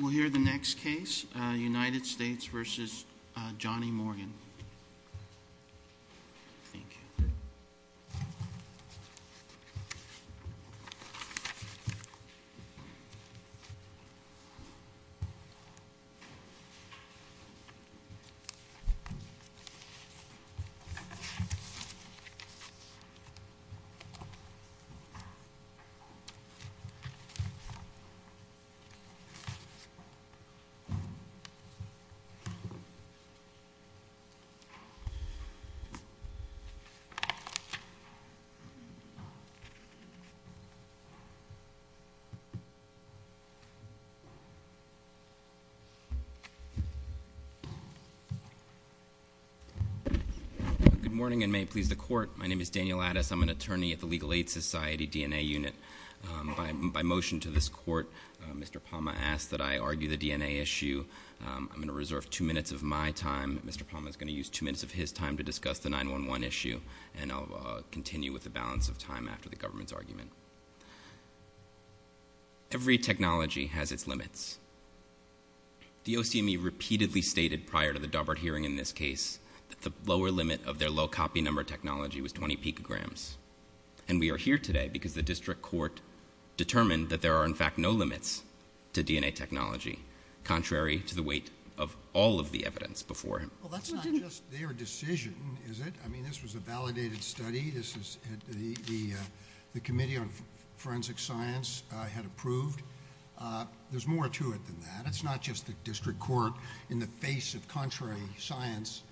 We'll hear the next case, United States v. Johnny Morgan. Good morning, and may it please the court. My name is Daniel Addis. I'm an attorney at the Legal Aid Society DNA unit. By motion to this court, Mr. Palma asked that I argue the DNA issue. I'm going to reserve two minutes of my time. Mr. Palma is going to use two minutes of his time to discuss the 9-1-1 issue, and I'll continue with the balance of time after the government's argument. Every technology has its limits. The OCME repeatedly stated prior to the Daubert hearing in this case that the lower limit of their low copy number technology was 20 picograms. And we are here today because the district court determined that there are, in fact, no limits to DNA technology, contrary to the weight of all of the evidence before him. Well, that's not just their decision, is it? I mean, this was a validated study. The Committee on Forensic Science had approved. There's more to it than that. That's not just the district court in the face of contrary science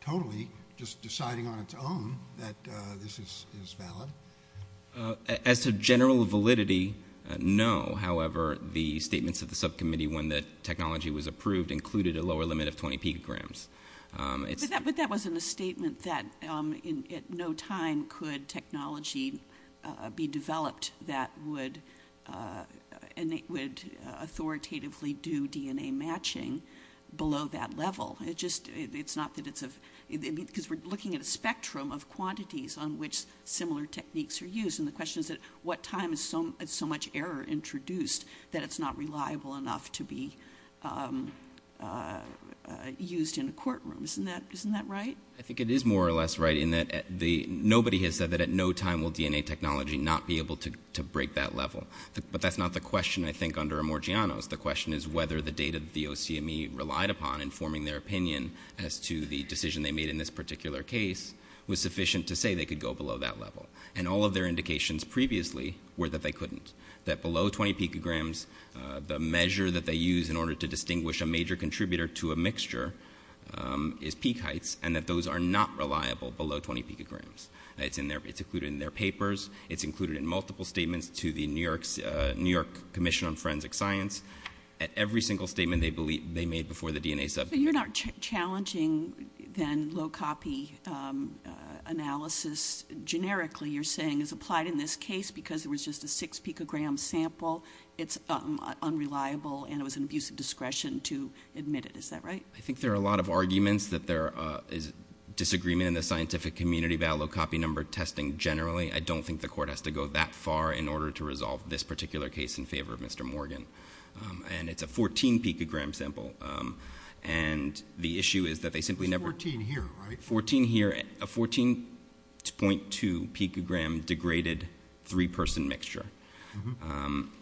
totally just deciding on its own that this is valid. As to general validity, no. However, the statements of the subcommittee when the technology was approved included a lower limit of 20 picograms. But that wasn't a statement that at no time could technology be developed that would authoritatively do DNA matching below that level. It's not that it's a... Because we're looking at a spectrum of quantities on which similar techniques are used. And the question is, at what time is so much error introduced that it's not reliable enough to be used in a courtroom? Isn't that right? I think it is more or less right in that nobody has said that at no time will DNA technology not be able to break that level. But that's not the question, I think, under Emergianos. The question is whether the data that the OCME relied upon in forming their opinion as to the decision they made in this particular case was sufficient to say they could go below that level. And all of their indications previously were that they couldn't, that below 20 picograms, the measure that they use in order to distinguish a major contributor to a mixture is peak heights, and that those are not reliable below 20 picograms. It's included in their papers. It's included in multiple statements to the New York Commission on Forensic Science. Every single statement they made before the DNA subject... But you're not challenging, then, low-copy analysis. Generically, you're saying it's applied in this case because there was just a 6-picogram sample, it's unreliable, and it was an abuse of discretion to admit it. Is that right? I think there are a lot of arguments that there is disagreement in the scientific community about low-copy number testing generally. I don't think the court has to go that far in order to resolve this particular case in favor of Mr. Morgan. And it's a 14-picogram sample. And the issue is that they simply never... It's 14 here, right? 14 here, a 14.2-picogram degraded three-person mixture.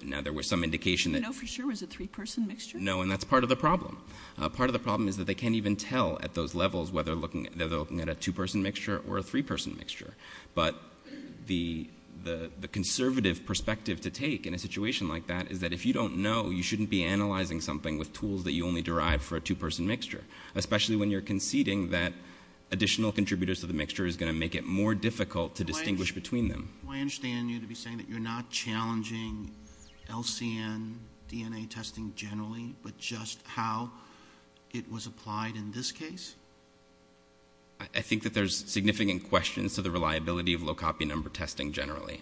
Now, there was some indication that... You know for sure it was a three-person mixture? No, and that's part of the problem. Part of the problem is that they can't even tell at those levels whether they're looking at a two-person mixture or a three-person mixture. But the conservative perspective to take in a situation like that is that if you don't know, you shouldn't be analyzing something with tools that you only derive for a two-person mixture, especially when you're conceding that additional contributors to the mixture is going to make it more difficult to distinguish between them. Do I understand you to be saying that you're not challenging LCN DNA testing generally but just how it was applied in this case? I think that there's significant questions to the reliability of low-copy number testing generally.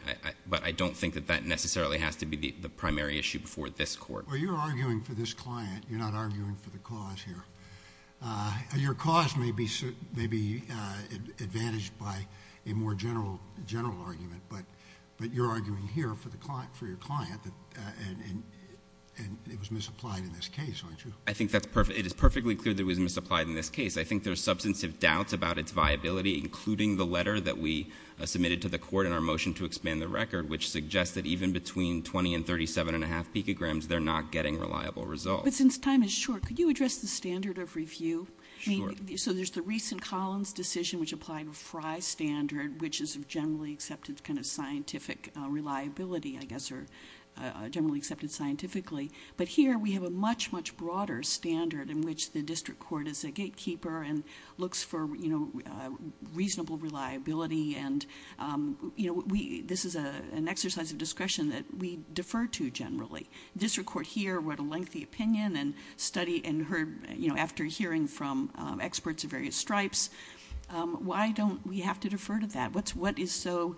But I don't think that that necessarily has to be the primary issue before this court. Well, you're arguing for this client. You're not arguing for the cause here. Your cause may be advantaged by a more general argument, but you're arguing here for your client and it was misapplied in this case, aren't you? I think it is perfectly clear that it was misapplied in this case. I think there's substantive doubts about its viability, including the letter that we submitted to the court in our motion to expand the record, which suggests that even between 20 and 37.5 picograms, they're not getting reliable results. But since time is short, could you address the standard of review? Sure. So there's the recent Collins decision, which applied a Frye standard, which is a generally accepted kind of scientific reliability, I guess, or generally accepted scientifically. But here we have a much, much broader standard in which the district court is a gatekeeper and looks for, you know, reasonable reliability. And, you know, this is an exercise of discretion that we defer to generally. The district court here wrote a lengthy opinion and studied and heard, you know, after hearing from experts of various stripes. Why don't we have to defer to that? What is so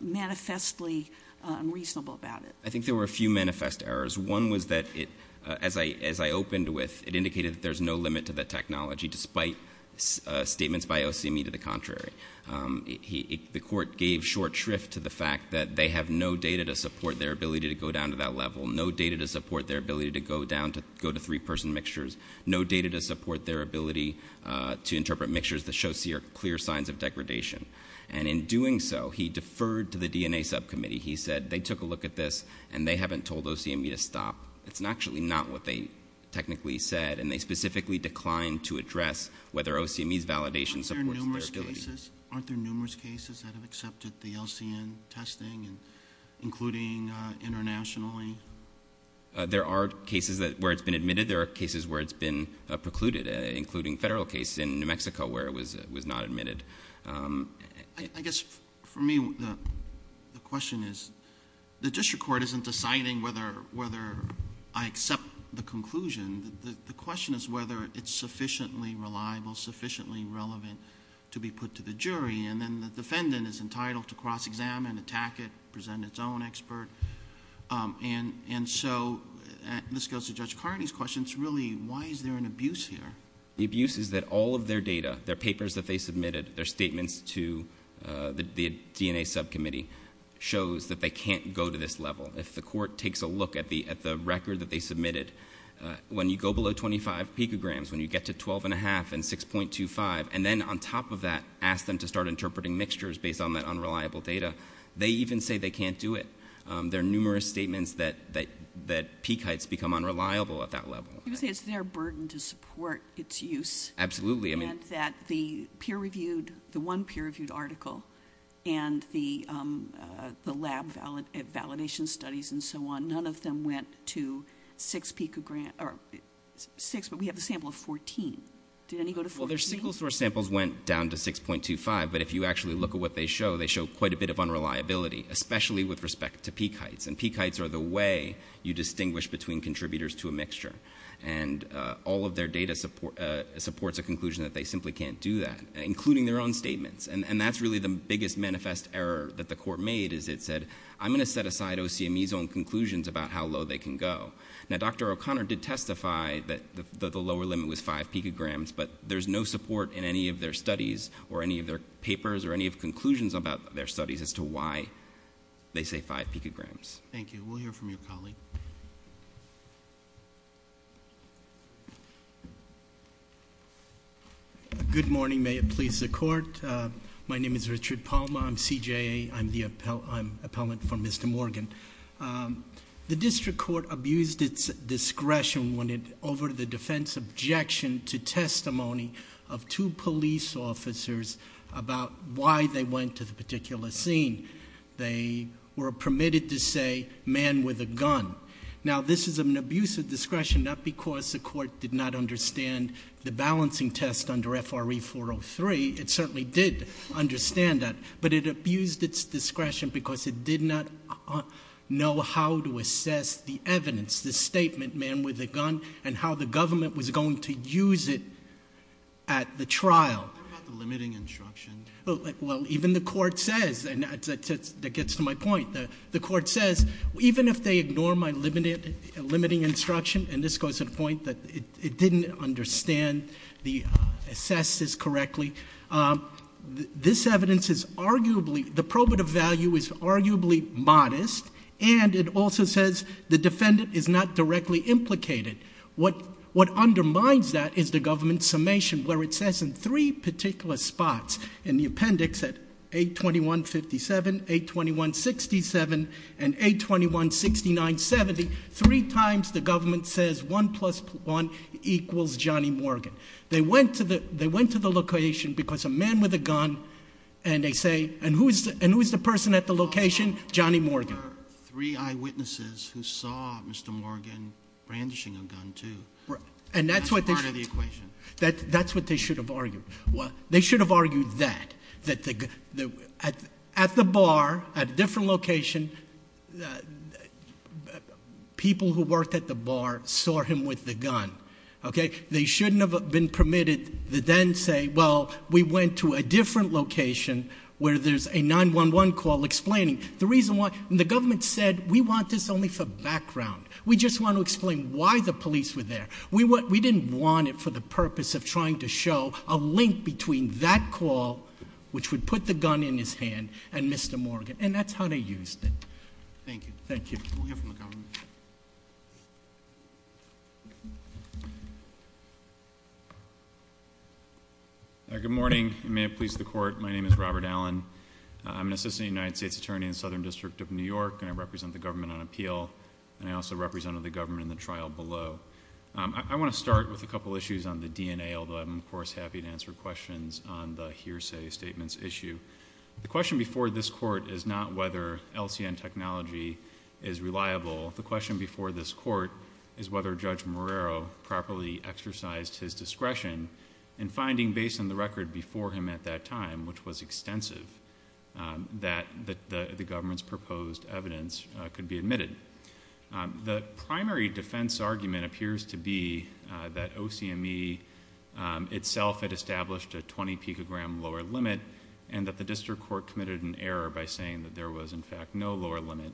manifestly unreasonable about it? I think there were a few manifest errors. One was that, as I opened with, it indicated that there's no limit to the technology despite statements by OCME to the contrary. The court gave short shrift to the fact that they have no data to support their ability to go down to that level, no data to support their ability to go down to three-person mixtures, no data to support their ability to interpret mixtures that show clear signs of degradation. And in doing so, he deferred to the DNA subcommittee. He said they took a look at this and they haven't told OCME to stop. It's actually not what they technically said, and they specifically declined to address whether OCME's validation supports their ability. Aren't there numerous cases that have accepted the LCN testing, including internationally? There are cases where it's been admitted. There are cases where it's been precluded, including a federal case in New Mexico where it was not admitted. I guess, for me, the question is, the district court isn't deciding whether I accept the conclusion. The question is whether it's sufficiently reliable, sufficiently relevant to be put to the jury, and then the defendant is entitled to cross-examine, attack it, present its own expert. And so this goes to Judge Carney's question. It's really, why is there an abuse here? The abuse is that all of their data, their papers that they submitted, their statements to the DNA subcommittee, shows that they can't go to this level. If the court takes a look at the record that they submitted, when you go below 25 picograms, when you get to 12.5 and 6.25, and then, on top of that, ask them to start interpreting mixtures based on that unreliable data, they even say they can't do it. There are numerous statements that peak heights become unreliable at that level. You would say it's their burden to support its use. Absolutely. And that the peer-reviewed, the one peer-reviewed article, and the lab validation studies and so on, none of them went to 6 picograms, or 6, but we have a sample of 14. Did any go to 14? Well, their single-source samples went down to 6.25, but if you actually look at what they show, they show quite a bit of unreliability, especially with respect to peak heights. And peak heights are the way you distinguish between contributors to a mixture. And all of their data supports a conclusion that they simply can't do that, including their own statements. And that's really the biggest manifest error that the court made, is it said, I'm going to set aside OCME's own conclusions about how low they can go. Now, Dr. O'Connor did testify that the lower limit was 5 picograms, but there's no support in any of their studies or any of their papers or any of conclusions about their studies as to why they say 5 picograms. Thank you. We'll hear from your colleague. Good morning. May it please the Court. My name is Richard Palma. I'm CJA. I'm the appellant for Mr. Morgan. The district court abused its discretion over the defense objection to testimony of two police officers about why they went to the particular scene. They were permitted to say, man with a gun. Now, this is an abuse of discretion, not because the court did not understand the balancing test under FRE 403. It certainly did understand that. But it abused its discretion because it did not know how to assess the evidence, the statement, man with a gun, and how the government was going to use it at the trial. What about the limiting instruction? Well, even the court says, and that gets to my point, the court says, even if they ignore my limiting instruction, and this goes to the point that it didn't understand, assess this correctly, this evidence is arguably, the probative value is arguably modest, and it also says the defendant is not directly implicated. What undermines that is the government's summation, where it says in three particular spots in the appendix, at 821-57, 821-67, and 821-6970, three times the government says 1 plus 1 equals Johnny Morgan. They went to the location because a man with a gun, and they say, and who is the person at the location? Johnny Morgan. There were three eyewitnesses who saw Mr. Morgan brandishing a gun, too. That's part of the equation. That's what they should have argued. They should have argued that, that at the bar, at a different location, people who worked at the bar saw him with the gun. They shouldn't have been permitted to then say, well, we went to a different location where there's a 911 call explaining. The reason why, the government said, we want this only for background. We just want to explain why the police were there. We didn't want it for the purpose of trying to show a link between that call, which would put the gun in his hand, and Mr. Morgan, and that's how they used it. Thank you. Thank you. We'll hear from the government. Good morning. May it please the Court. My name is Robert Allen. I'm an Assistant United States Attorney in the Southern District of New York, and I represent the government on appeal, and I also represented the government in the trial below. I want to start with a couple of issues on the DNA, although I'm, of course, happy to answer questions on the hearsay statements issue. The question before this Court is not whether LCN technology is reliable. The question before this Court is whether Judge Morero properly exercised his discretion in finding, based on the record before him at that time, which was extensive, that the government's proposed evidence could be admitted. The primary defense argument appears to be that OCME itself had established a 20-picogram lower limit and that the district court committed an error by saying that there was, in fact, no lower limit.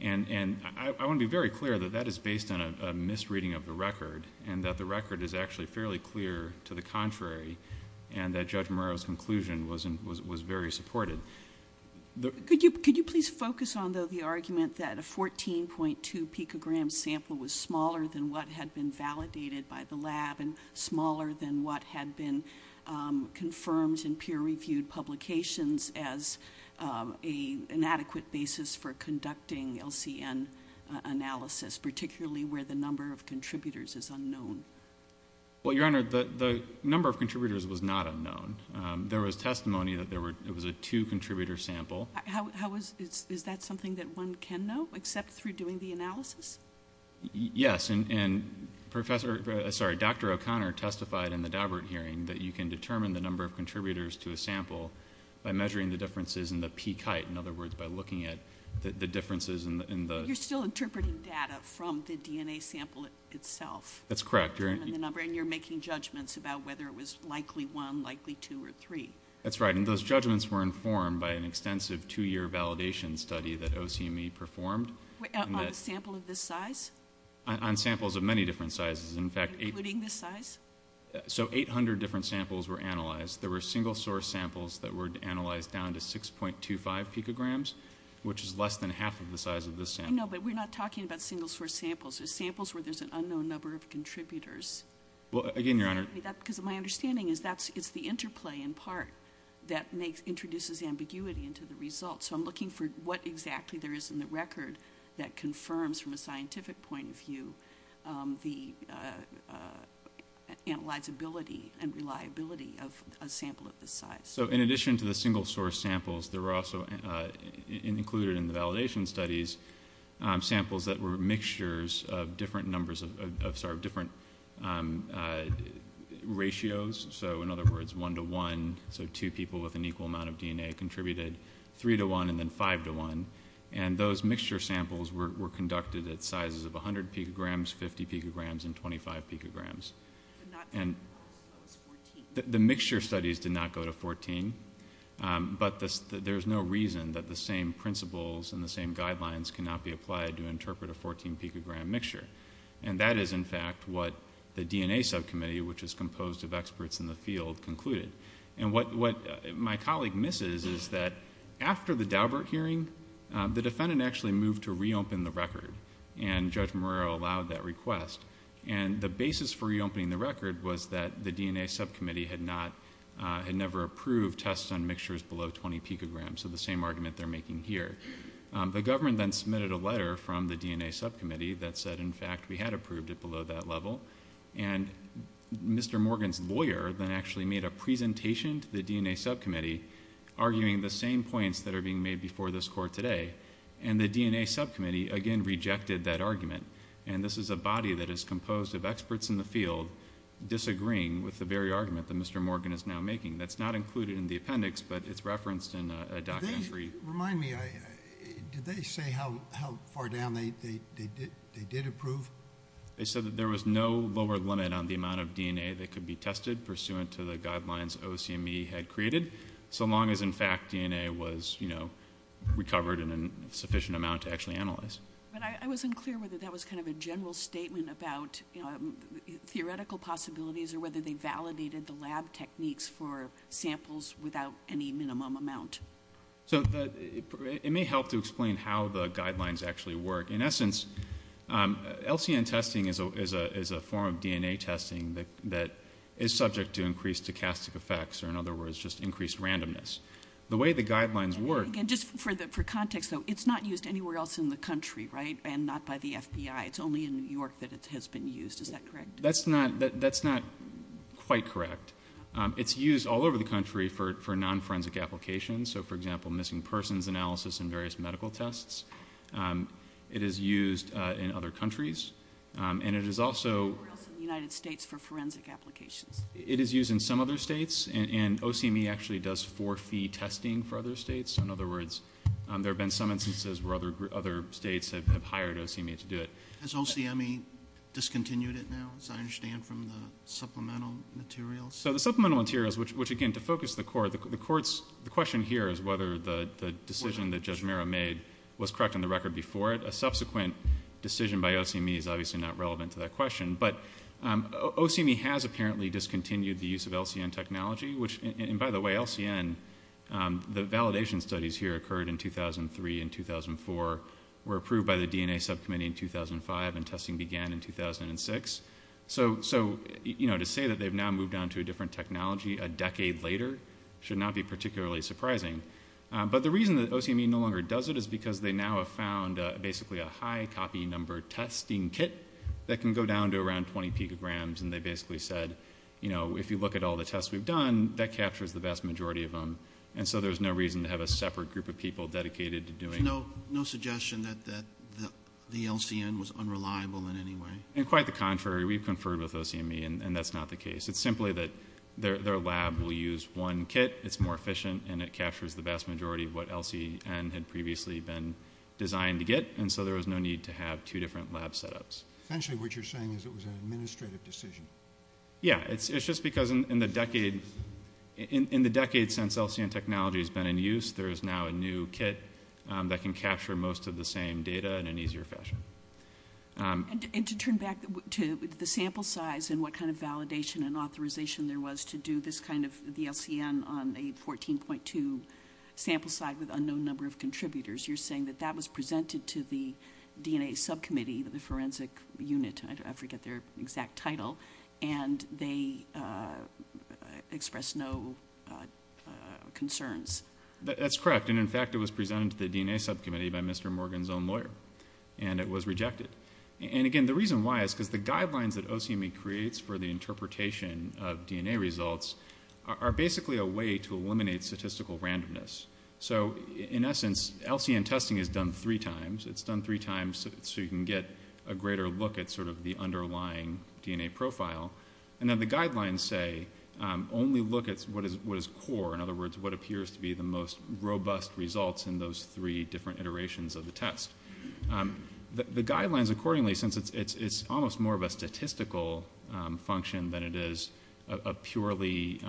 And I want to be very clear that that is based on a misreading of the record and that the record is actually fairly clear to the contrary and that Judge Morero's conclusion was very supported. Could you please focus on, though, the argument that a 14.2-picogram sample was smaller than what had been validated by the lab and smaller than what had been confirmed in peer-reviewed publications as an inadequate basis for conducting LCN analysis, particularly where the number of contributors is unknown? Well, Your Honor, the number of contributors was not unknown. There was testimony that it was a two-contributor sample. Is that something that one can know, except through doing the analysis? Yes, and Dr. O'Connor testified in the Daubert hearing that you can determine the number of contributors to a sample by measuring the differences in the peak height, in other words, by looking at the differences in the... You're still interpreting data from the DNA sample itself? That's correct. And you're making judgments about whether it was likely one, likely two, or three? That's right, and those judgments were informed by an extensive two-year validation study that OCME performed. On a sample of this size? On samples of many different sizes. Including this size? So 800 different samples were analyzed. There were single-source samples that were analyzed down to 6.25 picograms, which is less than half of the size of this sample. No, but we're not talking about single-source samples. They're samples where there's an unknown number of contributors. Well, again, Your Honor... Because my understanding is it's the interplay, in part, that introduces ambiguity into the results. So I'm looking for what exactly there is in the record that confirms from a scientific point of view the analyzability and reliability of a sample of this size. So in addition to the single-source samples, there were also included in the validation studies samples that were mixtures of different ratios. So in other words, one-to-one, so two people with an equal amount of DNA contributed, three-to-one, and then five-to-one. And those mixture samples were conducted at sizes of 100 picograms, 50 picograms, and 25 picograms. The mixture studies did not go to 14, but there's no reason that the same principles and the same guidelines cannot be applied to interpret a 14-picogram mixture. And that is, in fact, what the DNA subcommittee, which is composed of experts in the field, concluded. And what my colleague misses is that after the Daubert hearing, the defendant actually moved to reopen the record, and Judge Morillo allowed that request. And the basis for reopening the record was that the DNA subcommittee had never approved tests on mixtures below 20 picograms, so the same argument they're making here. The government then submitted a letter from the DNA subcommittee that said, in fact, we had approved it below that level. And Mr. Morgan's lawyer then actually made a presentation to the DNA subcommittee arguing the same points that are being made before this court today. And the DNA subcommittee, again, rejected that argument. And this is a body that is composed of experts in the field disagreeing with the very argument that Mr. Morgan is now making. That's not included in the appendix, but it's referenced in a documentary. Remind me, did they say how far down they did approve? They said that there was no lower limit on the amount of DNA that could be tested pursuant to the guidelines OCME had created, so long as, in fact, DNA was, you know, recovered in a sufficient amount to actually analyze. But I wasn't clear whether that was kind of a general statement about, you know, theoretical possibilities or whether they validated the lab techniques for samples without any minimum amount. So it may help to explain how the guidelines actually work. In essence, LCN testing is a form of DNA testing that is subject to increased stochastic effects, or in other words, just increased randomness. The way the guidelines work... Again, just for context, though, it's not used anywhere else in the country, right? And not by the FBI. It's only in New York that it has been used. Is that correct? That's not quite correct. It's used all over the country for non-forensic applications. So, for example, missing persons analysis and various medical tests. It is used in other countries, and it is also... Anywhere else in the United States for forensic applications? It is used in some other states, and OCME actually does for-fee testing for other states. So, in other words, there have been some instances where other states have hired OCME to do it. Has OCME discontinued it now, as I understand, from the supplemental materials? So the supplemental materials, which, again, to focus the court... The question here is whether the decision that Judge Mirra made was correct on the record before it. A subsequent decision by OCME is obviously not relevant to that question. But OCME has apparently discontinued the use of LCN technology, which, and by the way, LCN, the validation studies here occurred in 2003 and 2004, were approved by the DNA Subcommittee in 2005, and testing began in 2006. So to say that they've now moved on to a different technology a decade later should not be particularly surprising. But the reason that OCME no longer does it is because they now have found basically a high-copy number testing kit that can go down to around 20 picograms, and they basically said, you know, if you look at all the tests we've done, that captures the vast majority of them. And so there's no reason to have a separate group of people dedicated to doing it. So no suggestion that the LCN was unreliable in any way? Quite the contrary. We've conferred with OCME, and that's not the case. It's simply that their lab will use one kit, it's more efficient, and it captures the vast majority of what LCN had previously been designed to get, and so there was no need to have two different lab setups. Essentially what you're saying is it was an administrative decision. Yeah, it's just because in the decade since LCN technology has been in use, there is now a new kit that can capture most of the same data in an easier fashion. And to turn back to the sample size and what kind of validation and authorization there was to do this kind of LCN on a 14.2 sample size with unknown number of contributors, you're saying that that was presented to the DNA subcommittee, the forensic unit, I forget their exact title, and they expressed no concerns. That's correct, and in fact it was presented to the DNA subcommittee by Mr. Morgan's own lawyer, and it was rejected. And again, the reason why is because the guidelines that OCME creates for the interpretation of DNA results are basically a way to eliminate statistical randomness. So in essence, LCN testing is done three times. It's done three times so you can get a greater look at sort of the underlying DNA profile. And then the guidelines say only look at what is core, in other words what appears to be the most robust results in those three different iterations of the test. The guidelines accordingly, since it's almost more of a statistical function than it is a purely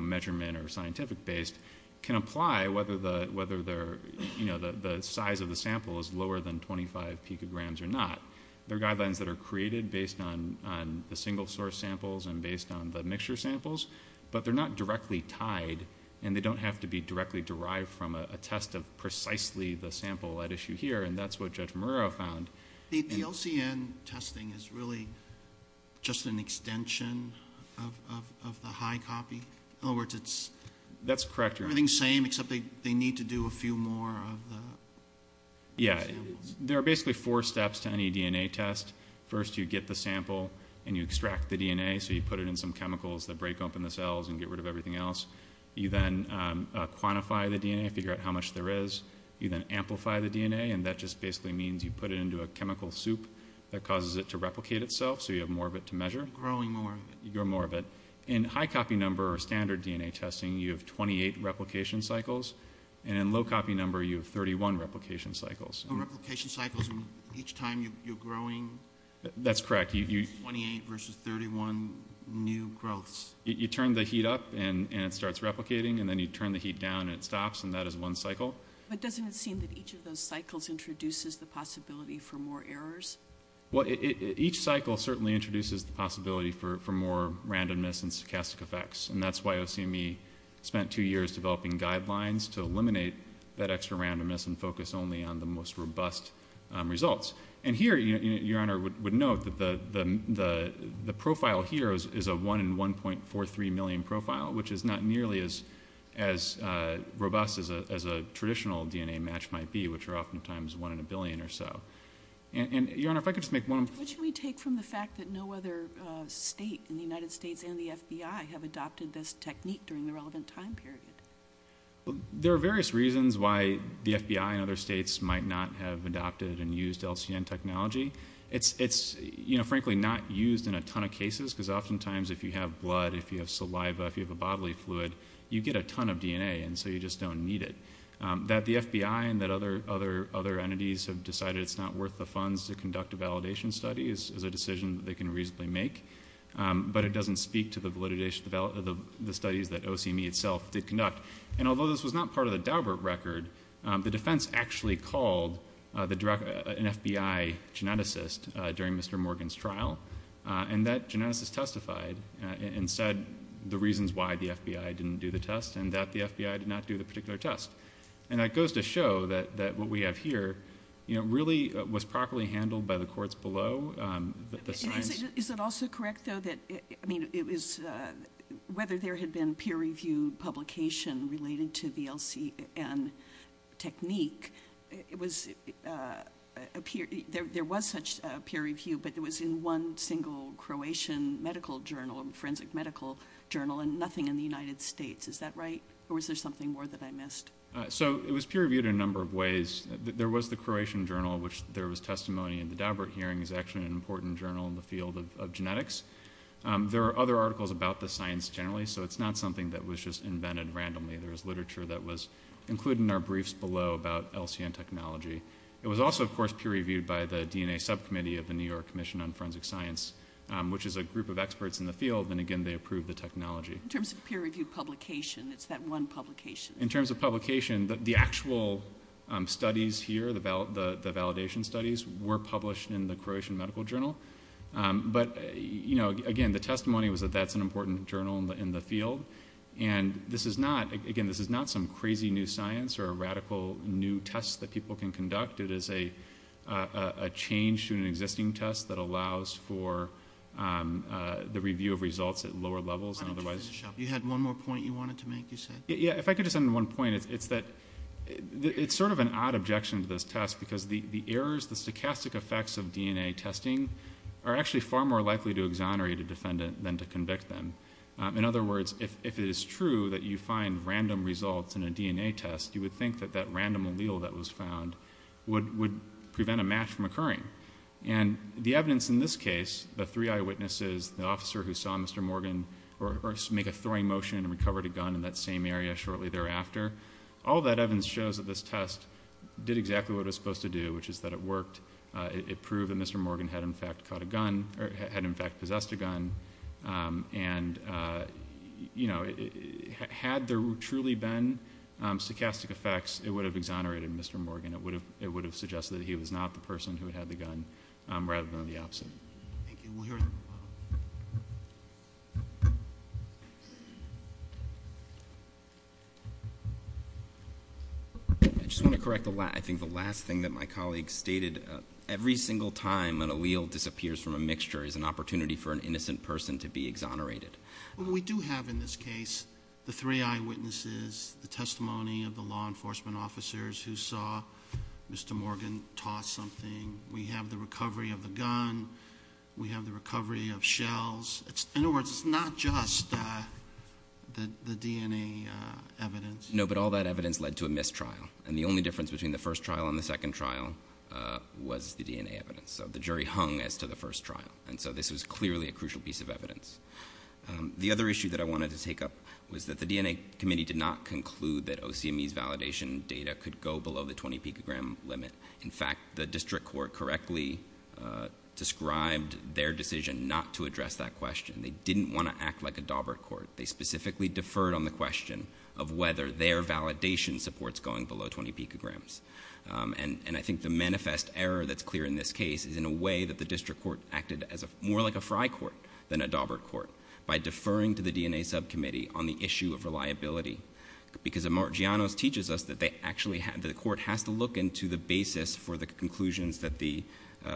measurement or scientific based, can apply whether the size of the sample is lower than 25 picograms or not. There are guidelines that are created based on the single source samples and based on the mixture samples, but they're not directly tied and they don't have to be directly derived from a test of precisely the sample at issue here, and that's what Judge Marrero found. The LCN testing is really just an extension of the high copy. In other words, it's everything the same except they need to do a few more of the samples. Yeah, there are basically four steps to any DNA test. First you get the sample and you extract the DNA, so you put it in some chemicals that break open the cells and get rid of everything else. You then quantify the DNA, figure out how much there is. You then amplify the DNA, and that just basically means you put it into a chemical soup that causes it to replicate itself, so you have more of it to measure. You're growing more of it. You're growing more of it. In high copy number or standard DNA testing, you have 28 replication cycles, and in low copy number you have 31 replication cycles. Oh, replication cycles each time you're growing? That's correct. 28 versus 31 new growths. You turn the heat up and it starts replicating, and then you turn the heat down and it stops, and that is one cycle. But doesn't it seem that each of those cycles introduces the possibility for more errors? Well, each cycle certainly introduces the possibility for more randomness and stochastic effects, and that's why OCME spent two years developing guidelines to eliminate that extra randomness and focus only on the most robust results. And here, Your Honor, would note that the profile here is a 1 in 1.43 million profile, which is not nearly as robust as a traditional DNA match might be, which are oftentimes 1 in a billion or so. And, Your Honor, if I could just make one point. What should we take from the fact that no other state in the United States and the FBI have adopted this technique during the relevant time period? There are various reasons why the FBI and other states might not have adopted and used LCN technology. It's, frankly, not used in a ton of cases, because oftentimes if you have blood, if you have saliva, if you have a bodily fluid, you get a ton of DNA, and so you just don't need it. That the FBI and that other entities have decided it's not worth the funds to conduct a validation study is a decision that they can reasonably make, but it doesn't speak to the studies that OCME itself did conduct. And although this was not part of the Daubert record, the defense actually called an FBI geneticist during Mr. Morgan's trial, and that geneticist testified and said the reasons why the FBI didn't do the test and that the FBI did not do the particular test. And that goes to show that what we have here really was properly handled by the courts below. Is it also correct, though, that whether there had been peer-reviewed publication related to the LCN technique, there was such peer review, but it was in one single Croatian medical journal, a forensic medical journal, and nothing in the United States. Is that right, or was there something more that I missed? So it was peer-reviewed in a number of ways. There was the Croatian journal, which there was testimony in. The Daubert hearing is actually an important journal in the field of genetics. There are other articles about the science generally, so it's not something that was just invented randomly. There was literature that was included in our briefs below about LCN technology. It was also, of course, peer-reviewed by the DNA subcommittee of the New York Commission on Forensic Science, which is a group of experts in the field, and, again, they approved the technology. In terms of peer-reviewed publication, it's that one publication. In terms of publication, the actual studies here, the validation studies, were published in the Croatian medical journal. But, again, the testimony was that that's an important journal in the field. And, again, this is not some crazy new science or a radical new test that people can conduct. It is a change to an existing test that allows for the review of results at lower levels. You had one more point you wanted to make, you said? If I could just add one point, it's that it's sort of an odd objection to this test because the errors, the stochastic effects of DNA testing are actually far more likely to exonerate a defendant than to convict them. In other words, if it is true that you find random results in a DNA test, you would think that that random allele that was found would prevent a match from occurring. And the evidence in this case, the three eyewitnesses, the officer who saw Mr. Morgan make a throwing motion and recovered a gun in that same area shortly thereafter, all that evidence shows that this test did exactly what it was supposed to do, which is that it worked. It proved that Mr. Morgan had, in fact, possessed a gun. And, you know, had there truly been stochastic effects, it would have exonerated Mr. Morgan. It would have suggested that he was not the person who had the gun rather than the opposite. Thank you. I just want to correct the last thing that my colleague stated. Every single time an allele disappears from a mixture is an opportunity for an innocent person to be exonerated. We do have in this case the three eyewitnesses, the testimony of the law enforcement officers who saw Mr. Morgan toss something. We have the recovery of the gun. We have the recovery of shells. In other words, it's not just the DNA evidence. No, but all that evidence led to a mistrial. And the only difference between the first trial and the second trial was the DNA evidence. So the jury hung as to the first trial. And so this was clearly a crucial piece of evidence. The other issue that I wanted to take up was that the DNA committee did not conclude that OCME's validation data could go below the 20-picogram limit. In fact, the district court correctly described their decision not to address that question. They didn't want to act like a Daubert court. They specifically deferred on the question of whether their validation supports going below 20 picograms. And I think the manifest error that's clear in this case is in a way that the district court acted more like a Frye court than a Daubert court by deferring to the DNA subcommittee on the issue of reliability because, as Mark Giannos teaches us, the court has to look into the basis for the conclusions that the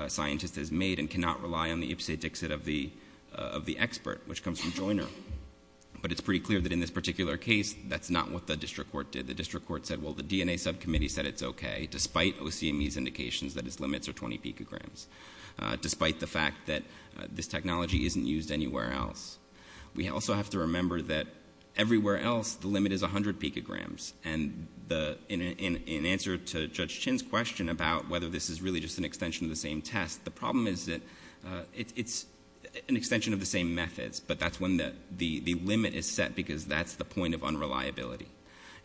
scientist has made and cannot rely on the ipse dixit of the expert, which comes from Joyner. But it's pretty clear that in this particular case, that's not what the district court did. The district court said, well, the DNA subcommittee said it's okay, despite OCME's indications that its limits are 20 picograms, despite the fact that this technology isn't used anywhere else. We also have to remember that everywhere else the limit is 100 picograms. And in answer to Judge Chin's question about whether this is really just an extension of the same test, the problem is that it's an extension of the same methods, but that's when the limit is set because that's the point of unreliability.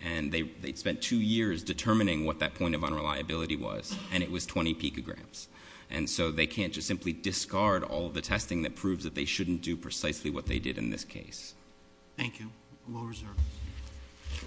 And they spent two years determining what that point of unreliability was, and it was 20 picograms. And so they can't just simply discard all of the testing that proves that they shouldn't do precisely what they did in this case. Thank you. We'll reserve.